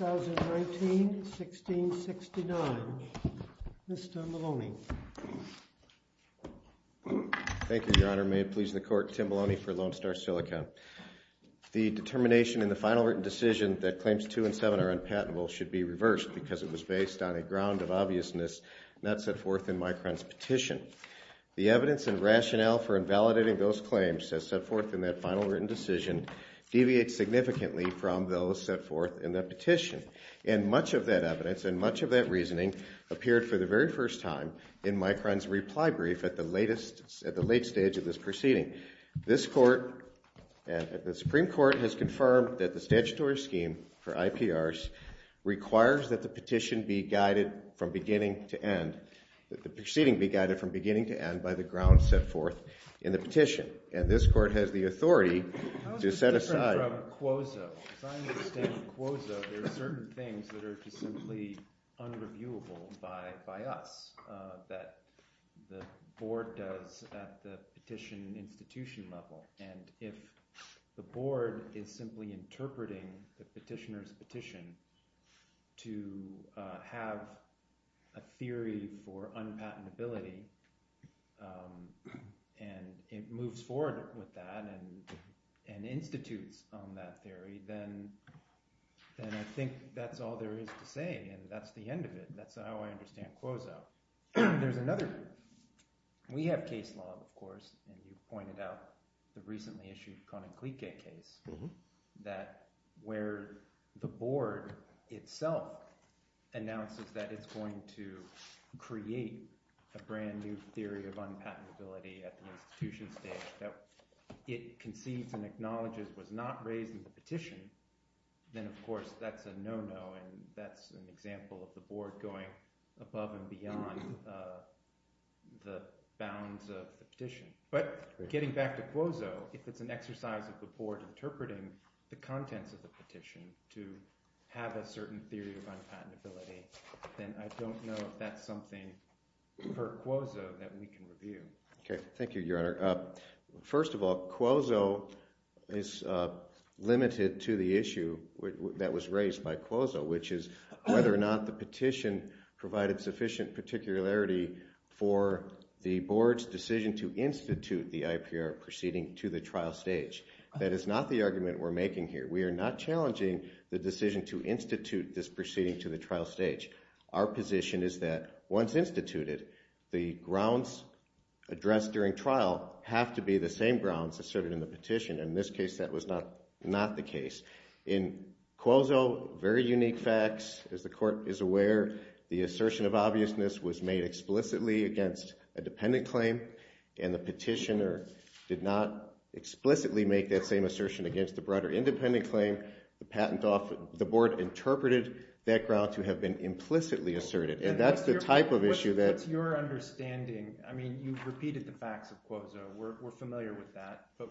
2019-1669, Mr. Maloney. Thank you, Your Honor. May it please the Court, Tim Maloney for Lone Star Silicon. The determination in the final written decision that Claims 2 and 7 are unpatentable should be reversed because it was based on a ground of obviousness not set forth in Micron's petition. The evidence and rationale for invalidating those claims set forth in that final written decision deviates significantly from those set forth in the petition. And much of that evidence and much of that reasoning appeared for the very first time in Micron's reply brief at the late stage of this proceeding. This Court and the Supreme Court has confirmed that the statutory scheme for IPRs requires that the petition be guided from beginning to end, that the proceeding be guided from beginning to end by the ground set forth in the petition. And this Court has the authority to set aside. As I understand Quozo, there are certain things that are just simply unreviewable by us that the Board does at the petition institution level. And if the Board is simply interpreting the petitioner's petition to have a theory for unpatentability and it moves forward with that and institutes on that theory, then I think that's all there is to say. And that's the end of it. That's how I understand Quozo. There's another – we have case law, of course, and you've pointed out the recently issued Konaklijke case where the Board itself announces that it's going to create a brand new theory of unpatentability at the institution stage. If it concedes and acknowledges it was not raised in the petition, then of course that's a no-no and that's an example of the Board going above and beyond the bounds of the petition. But getting back to Quozo, if it's an exercise of the Board interpreting the contents of the petition to have a certain theory of unpatentability, then I don't know if that's something per Quozo that we can review. Okay, thank you, Your Honor. First of all, Quozo is limited to the issue that was raised by Quozo, which is whether or not the petition provided sufficient particularity for the Board's decision to institute the IPR proceeding to the trial stage. That is not the argument we're making here. We are not challenging the decision to institute this proceeding to the trial stage. Our position is that once instituted, the grounds addressed during trial have to be the same grounds asserted in the petition. In this case, that was not the case. In Quozo, very unique facts. As the Court is aware, the assertion of obviousness was made explicitly against a dependent claim, and the petitioner did not explicitly make that same assertion against the broader independent claim. The Board interpreted that ground to have been implicitly asserted, and that's the type of issue that— What's your understanding? I mean, you've repeated the facts of Quozo. We're familiar with that. But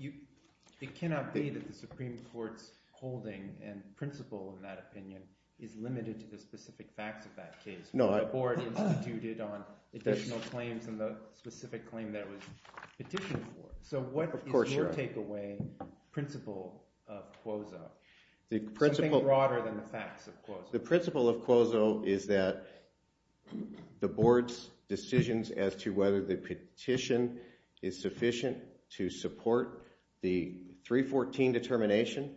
it cannot be that the Supreme Court's holding and principle in that opinion is limited to the specific facts of that case. The Board instituted on additional claims and the specific claim that it was petitioned for. Of course, Your Honor. What is the principle of Quozo? Something broader than the facts of Quozo. The principle of Quozo is that the Board's decisions as to whether the petition is sufficient to support the 314 determination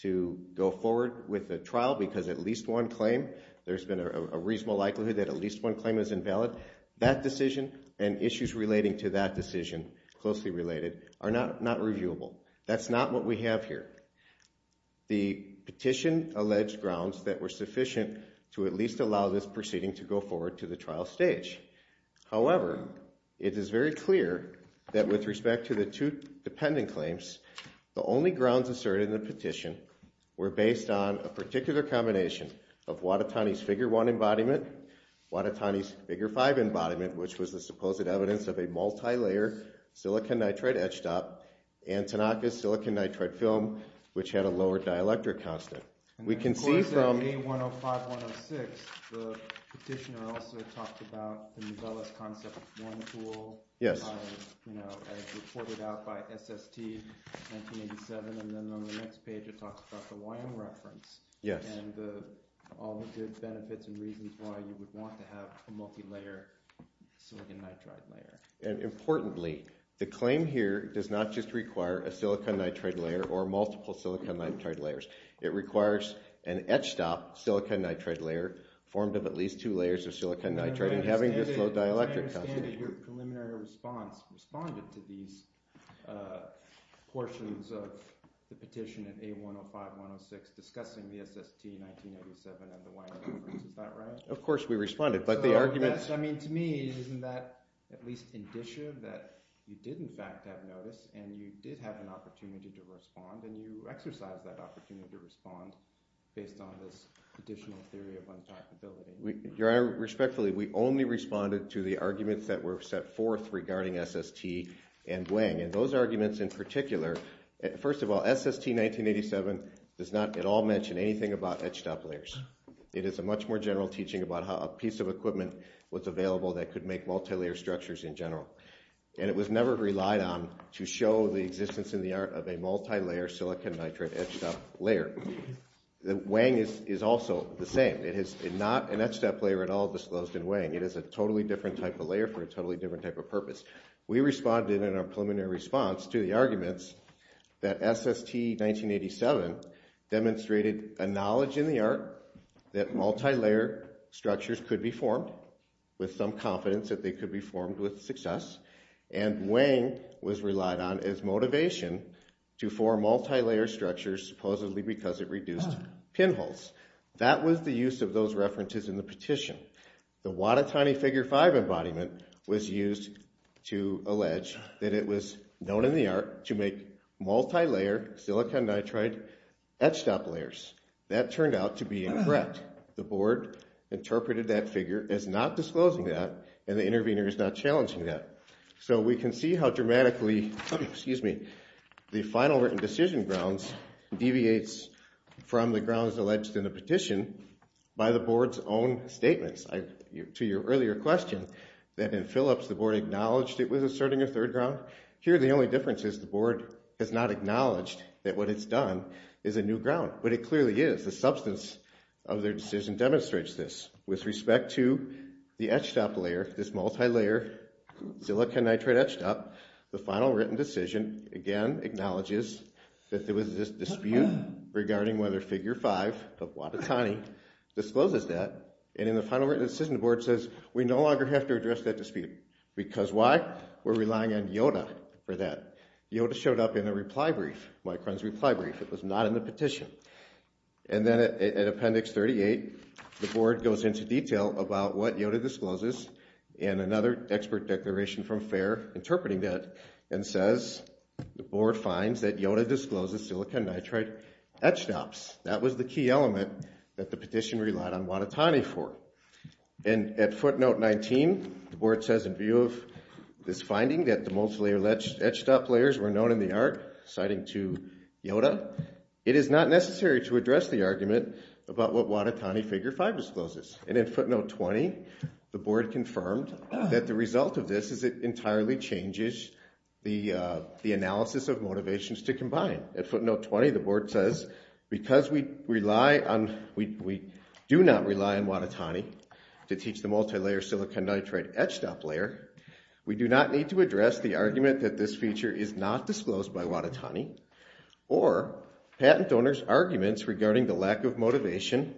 to go forward with the trial because at least one claim, there's been a reasonable likelihood that at least one claim is invalid. That decision and issues relating to that decision, closely related, are not reviewable. That's not what we have here. The petition alleged grounds that were sufficient to at least allow this proceeding to go forward to the trial stage. However, it is very clear that with respect to the two dependent claims, the only grounds asserted in the petition were based on a particular combination of Watatani's Figure 1 embodiment, Watatani's Figure 5 embodiment, which was the supposed evidence of a multilayer silicon nitride etch dot, and Tanaka's silicon nitride film, which had a lower dielectric constant. And of course, in A105-106, the petitioner also talked about the Novellus Concept 1 tool as reported out by SST in 1987, and then on the next page it talks about the YM reference and all the good benefits and reasons why you would want to have a multilayer silicon nitride layer. Importantly, the claim here does not just require a silicon nitride layer or multiple silicon nitride layers. It requires an etch dot silicon nitride layer formed of at least two layers of silicon nitride and having this low dielectric constant. As I understand it, your preliminary response responded to these portions of the petition in A105-106 discussing the SST in 1987 and the YM reference. Is that right? Of course we responded, but the argument... I mean, to me, isn't that at least indicative that you did in fact have notice and you did have an opportunity to respond and you exercised that opportunity to respond based on this additional theory of untalkability? Your Honor, respectfully, we only responded to the arguments that were set forth regarding SST and Wang. And those arguments in particular, first of all, SST 1987 does not at all mention anything about etched-top layers. It is a much more general teaching about how a piece of equipment was available that could make multilayer structures in general. And it was never relied on to show the existence in the art of a multilayer silicon nitride etched-top layer. Wang is also the same. It is not an etched-top layer at all disclosed in Wang. It is a totally different type of layer for a totally different type of purpose. We responded in our preliminary response to the arguments that SST 1987 demonstrated a knowledge in the art that multilayer structures could be formed with some confidence that they could be formed with success. And Wang was relied on as motivation to form multilayer structures supposedly because it reduced pinholes. That was the use of those references in the petition. The Watatani Figure 5 embodiment was used to allege that it was known in the art to make multilayer silicon nitride etched-top layers. That turned out to be incorrect. The Board interpreted that figure as not disclosing that and the intervener is not challenging that. So we can see how dramatically the final written decision grounds deviates from the grounds alleged in the petition by the Board's own statements to your earlier question that in Phillips the Board acknowledged it was asserting a third ground. Here the only difference is the Board has not acknowledged that what it's done is a new ground. But it clearly is. The substance of their decision demonstrates this with respect to the etched-top layer, this multilayer silicon nitride etched-top. The final written decision again acknowledges that there was a dispute regarding whether Figure 5 of Watatani discloses that. And in the final written decision the Board says we no longer have to address that dispute. Because why? We're relying on YODA for that. YODA showed up in a reply brief, Micron's reply brief. It was not in the petition. And then in Appendix 38 the Board goes into detail about what YODA discloses and another expert declaration from FAIR interpreting that and says the Board finds that YODA discloses silicon nitride etched-tops. That was the key element that the petition relied on Watatani for. And at footnote 19 the Board says in view of this finding that the multilayer etched-top layers were known in the art, citing to YODA, it is not necessary to address the argument about what Watatani Figure 5 discloses. And in footnote 20 the Board confirmed that the result of this is it entirely changes the analysis of motivations to combine. At footnote 20 the Board says because we do not rely on Watatani to teach the multilayer silicon nitride etched-top layer, we do not need to address the argument that this feature is not disclosed by Watatani or patent donors' arguments regarding the lack of motivation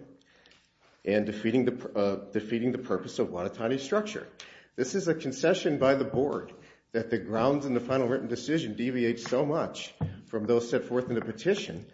and defeating the purpose of Watatani's structure. This is a concession by the Board that the grounds in the final written decision deviate so much from those set forth in the petition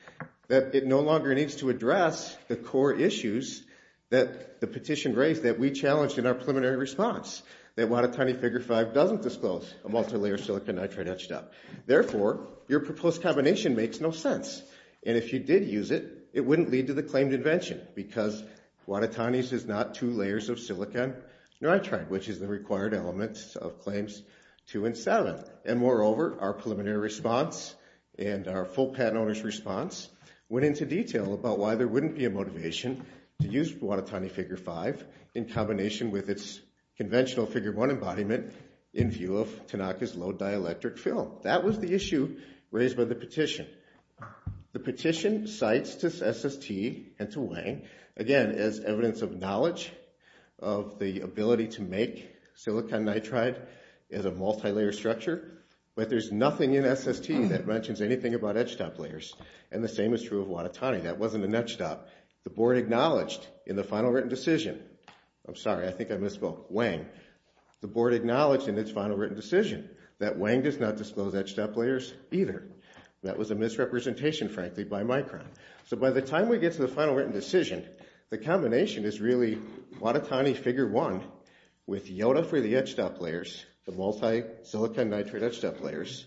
that it no longer needs to address the core issues that the petition raised that we challenged in our preliminary response, that Watatani Figure 5 doesn't disclose a multilayer silicon nitride etched-top. Therefore, your proposed combination makes no sense, and if you did use it, it wouldn't lead to the claimed invention because Watatani's is not two layers of silicon nitride, which is the required element of Claims 2 and 7. And moreover, our preliminary response and our full patent owner's response went into detail about why there wouldn't be a motivation to use Watatani Figure 5 in combination with its conventional Figure 1 embodiment in view of Tanaka's low dielectric fill. That was the issue raised by the petition. The petition cites to SST and to Wang, again, as evidence of knowledge of the ability to make silicon nitride as a multilayer structure, but there's nothing in SST that mentions anything about etched-top layers, and the same is true of Watatani. That wasn't an etched-top. The board acknowledged in the final written decision, I'm sorry, I think I misspoke, Wang, the board acknowledged in its final written decision that Wang does not disclose etched-top layers either. That was a misrepresentation, frankly, by Micron. So by the time we get to the final written decision, the combination is really Watatani Figure 1 with Yoda for the etched-top layers, the multi-silicon nitride etched-top layers.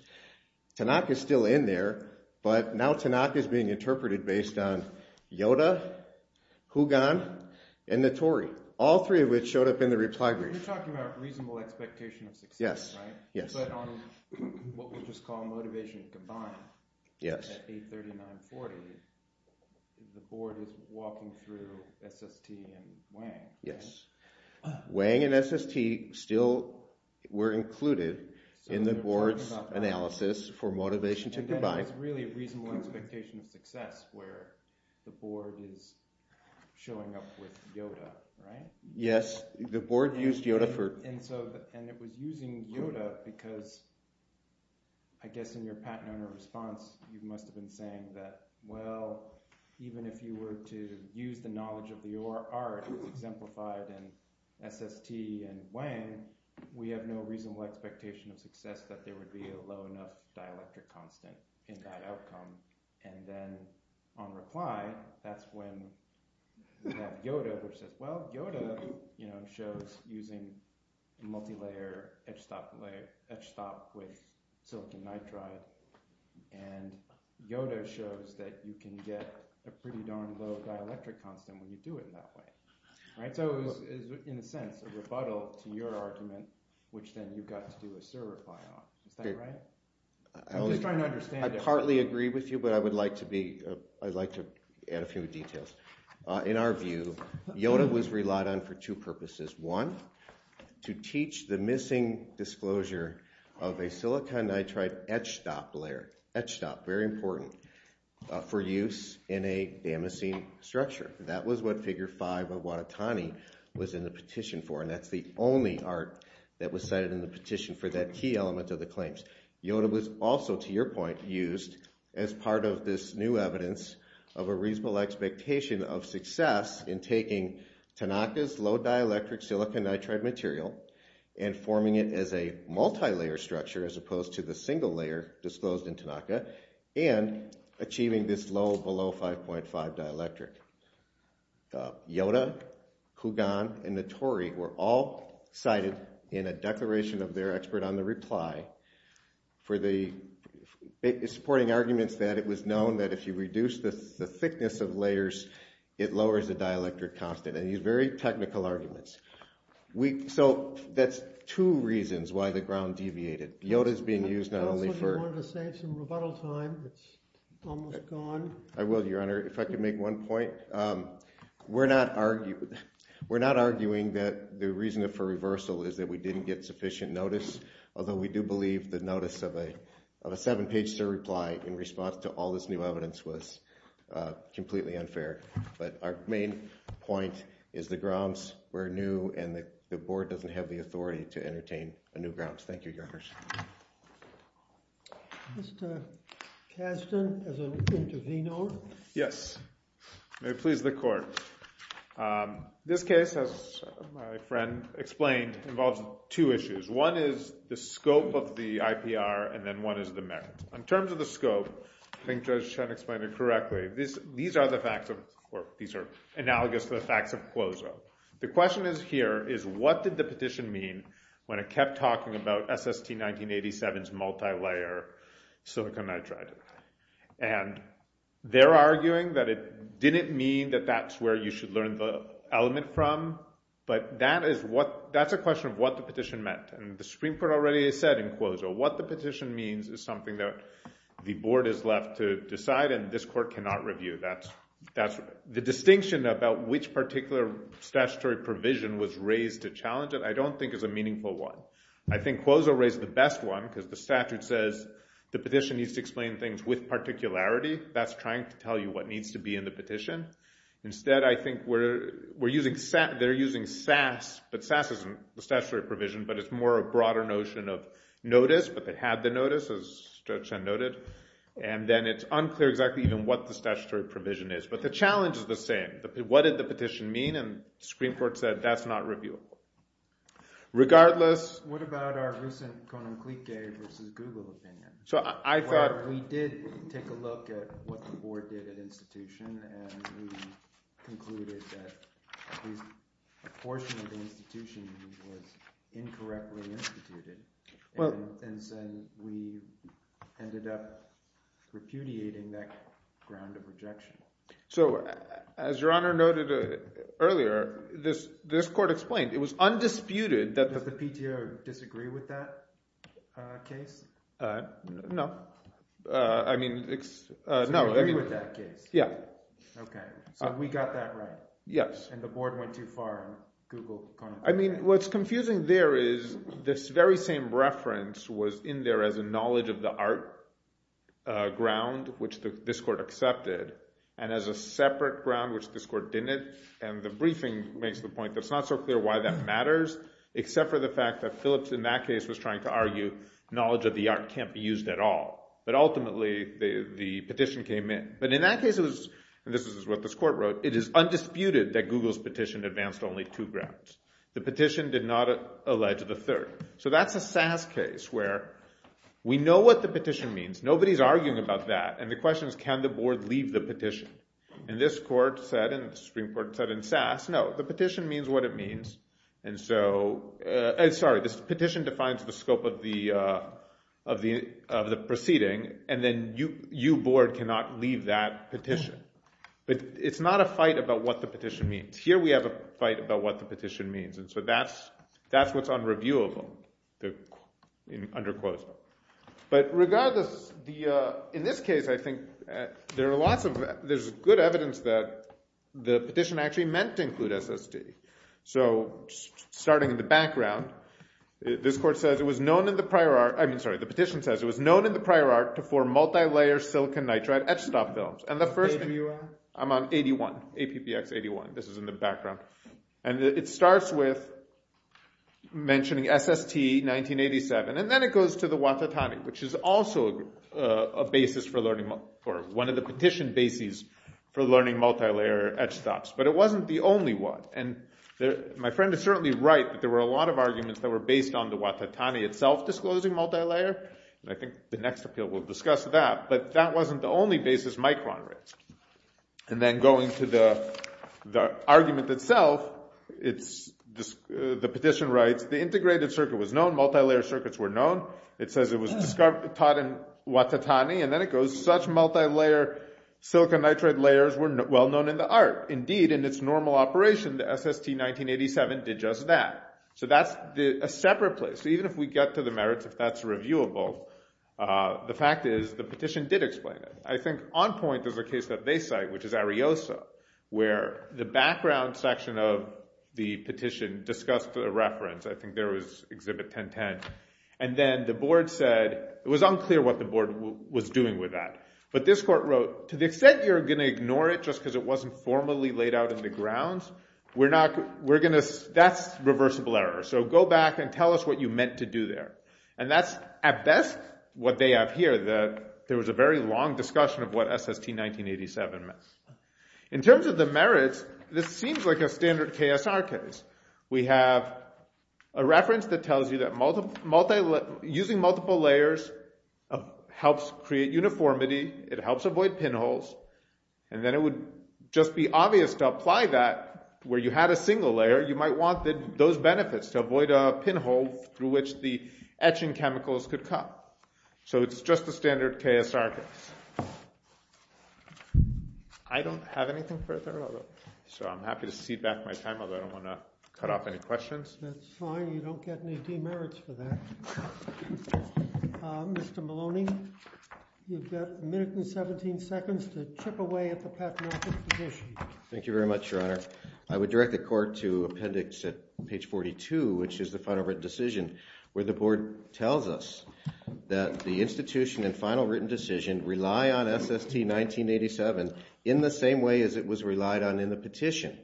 Tanaka's still in there, but now Tanaka's being interpreted based on Yoda, Hougan, and Notori, all three of which showed up in the reply brief. You're talking about reasonable expectation of success, right? Yes. But on what we'll just call Motivation to Combine at 839.40, the board is walking through SST and Wang, right? Yes. Wang and SST still were included in the board's analysis for Motivation to Combine. It's really a reasonable expectation of success where the board is showing up with Yoda, right? Yes. The board used Yoda for – And so – and it was using Yoda because I guess in your Pat Nona response you must have been saying that, well, even if you were to use the knowledge of the art exemplified in SST and Wang, we have no reasonable expectation of success that there would be a low enough dielectric constant in that outcome. And then on reply, that's when we have Yoda, which says, well, Yoda shows using multilayer etched-top with silicon nitride, and Yoda shows that you can get a pretty darn low dielectric constant when you do it that way. So it was, in a sense, a rebuttal to your argument, which then you got to do a SIR reply on. Is that right? I'm just trying to understand it. I heartily agree with you, but I would like to be – I'd like to add a few details. In our view, Yoda was relied on for two purposes. One, to teach the missing disclosure of a silicon nitride etched-top layer – etched-top, very important – for use in a damascene structure. That was what Figure 5 of Watatani was in the petition for, and that's the only art that was cited in the petition for that key element of the claims. Yoda was also, to your point, used as part of this new evidence of a reasonable expectation of success in taking Tanaka's low dielectric silicon nitride material and forming it as a multilayer structure, as opposed to the single layer disclosed in Tanaka, and achieving this low below 5.5 dielectric. Yoda, Kugan, and Notori were all cited in a declaration of their expert on the reply for the – supporting arguments that it was known that if you reduce the thickness of layers, it lowers the dielectric constant. And these are very technical arguments. So that's two reasons why the ground deviated. Yoda's being used not only for – If you wanted to save some rebuttal time, it's almost gone. I will, Your Honor. If I could make one point. We're not arguing that the reason for reversal is that we didn't get sufficient notice, although we do believe the notice of a seven-page surreply in response to all this new evidence was completely unfair. But our main point is the grounds were new, and the board doesn't have the authority to entertain a new grounds. Thank you, Your Honors. Mr. Kasdan, as an intervenor. Yes. May it please the court. This case, as my friend explained, involves two issues. One is the scope of the IPR, and then one is the merit. In terms of the scope, I think Judge Chen explained it correctly. These are the facts of – or these are analogous to the facts of CLOSO. The question is here is what did the petition mean when it kept talking about SST 1987's multilayer silicon nitride? And they're arguing that it didn't mean that that's where you should learn the element from, but that is what – that's a question of what the petition meant. And the Supreme Court already has said in CLOSO what the petition means is something that the board is left to decide, and this court cannot review. The distinction about which particular statutory provision was raised to challenge it I don't think is a meaningful one. I think CLOSO raised the best one because the statute says the petition needs to explain things with particularity. That's trying to tell you what needs to be in the petition. Instead, I think we're using – they're using SAS, but SAS isn't the statutory provision, but it's more a broader notion of notice, but they had the notice, as Judge Chen noted. And then it's unclear exactly even what the statutory provision is. But the challenge is the same. What did the petition mean? And the Supreme Court said that's not reviewable. Regardless – What about our recent Konam Clique versus Google opinion? So I thought – Where we did take a look at what the board did at institution, and we concluded that at least a portion of the institution was incorrectly instituted. And so we ended up repudiating that ground of rejection. So as Your Honor noted earlier, this court explained it was undisputed that – Does the PTO disagree with that case? No. I mean – Disagree with that case. Yeah. Okay. So we got that right. Yes. And the board went too far in Google Konam Clique. I mean what's confusing there is this very same reference was in there as a knowledge of the art ground, which this court accepted, and as a separate ground, which this court didn't. And the briefing makes the point that it's not so clear why that matters, except for the fact that Phillips in that case was trying to argue knowledge of the art can't be used at all. But ultimately the petition came in. But in that case it was – and this is what this court wrote – it is undisputed that Google's petition advanced only two grounds. The petition did not allege the third. So that's a SAS case where we know what the petition means. Nobody is arguing about that. And the question is can the board leave the petition? And this court said, and the Supreme Court said in SAS, no, the petition means what it means. Sorry, the petition defines the scope of the proceeding, and then you, board, cannot leave that petition. But it's not a fight about what the petition means. Here we have a fight about what the petition means. And so that's what's unreviewable, under quotation. But regardless, in this case I think there are lots of – there's good evidence that the petition actually meant to include SSD. So starting in the background, this court says it was known in the prior art – I mean, sorry, the petition says it was known in the prior art to form multilayer silicon nitride etch stop films. And the first – I'm on 81, APPX 81. This is in the background. And it starts with mentioning SST 1987, and then it goes to the Watatani, which is also a basis for learning – or one of the petition bases for learning multilayer etch stops. But it wasn't the only one. And my friend is certainly right that there were a lot of arguments that were based on the Watatani itself disclosing multilayer. And I think the next appeal will discuss that. But that wasn't the only basis Micron raised. And then going to the argument itself, the petition writes, the integrated circuit was known, multilayer circuits were known. It says it was taught in Watatani. And then it goes, such multilayer silicon nitride layers were well known in the art. Indeed, in its normal operation, the SST 1987 did just that. So that's a separate place. So even if we get to the merits, if that's reviewable, the fact is the petition did explain it. I think on point is a case that they cite, which is Ariosa, where the background section of the petition discussed a reference. I think there was Exhibit 1010. And then the board said it was unclear what the board was doing with that. But this court wrote, to the extent you're going to ignore it just because it wasn't formally laid out in the grounds, that's reversible error. So go back and tell us what you meant to do there. And that's, at best, what they have here, that there was a very long discussion of what SST 1987 meant. In terms of the merits, this seems like a standard KSR case. We have a reference that tells you that using multiple layers helps create uniformity. It helps avoid pinholes. And then it would just be obvious to apply that where you had a single layer. You might want those benefits to avoid a pinhole through which the etching chemicals could come. So it's just a standard KSR case. I don't have anything further. So I'm happy to cede back my time, although I don't want to cut off any questions. That's fine. You don't get any demerits for that. Mr. Maloney, you've got a minute and 17 seconds to chip away at the pathological petition. Thank you very much, Your Honor. I would direct the court to appendix at page 42, which is the final written decision, where the board tells us that the institution and final written decision rely on SST 1987 in the same way as it was relied on in the petition,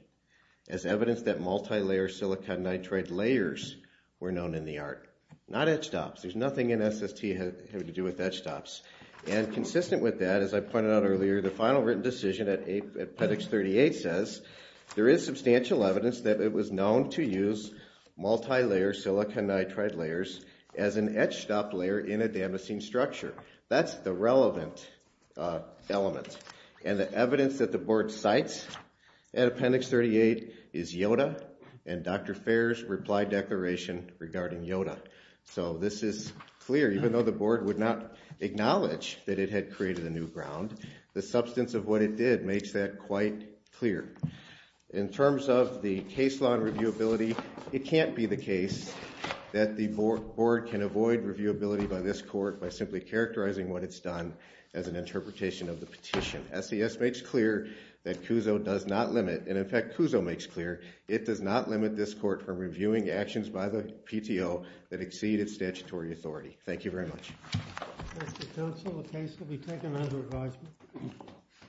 as evidence that multilayer silicon nitride layers were known in the art. Not etched ops. There's nothing in SST having to do with etched ops. And consistent with that, as I pointed out earlier, the final written decision at appendix 38 says there is substantial evidence that it was known to use multilayer silicon nitride layers as an etched op layer in a damascene structure. That's the relevant element. And the evidence that the board cites at appendix 38 is Yoda and Dr. Fair's reply declaration regarding Yoda. So this is clear. Even though the board would not acknowledge that it had created a new ground, the substance of what it did makes that quite clear. In terms of the case law and reviewability, it can't be the case that the board can avoid reviewability by this court by simply characterizing what it's done as an interpretation of the petition. SES makes clear that CUSO does not limit. And, in fact, CUSO makes clear it does not limit this court from reviewing actions by the PTO that exceed its statutory authority. Thank you very much. Mr. Counsel, the case can be taken under advisement.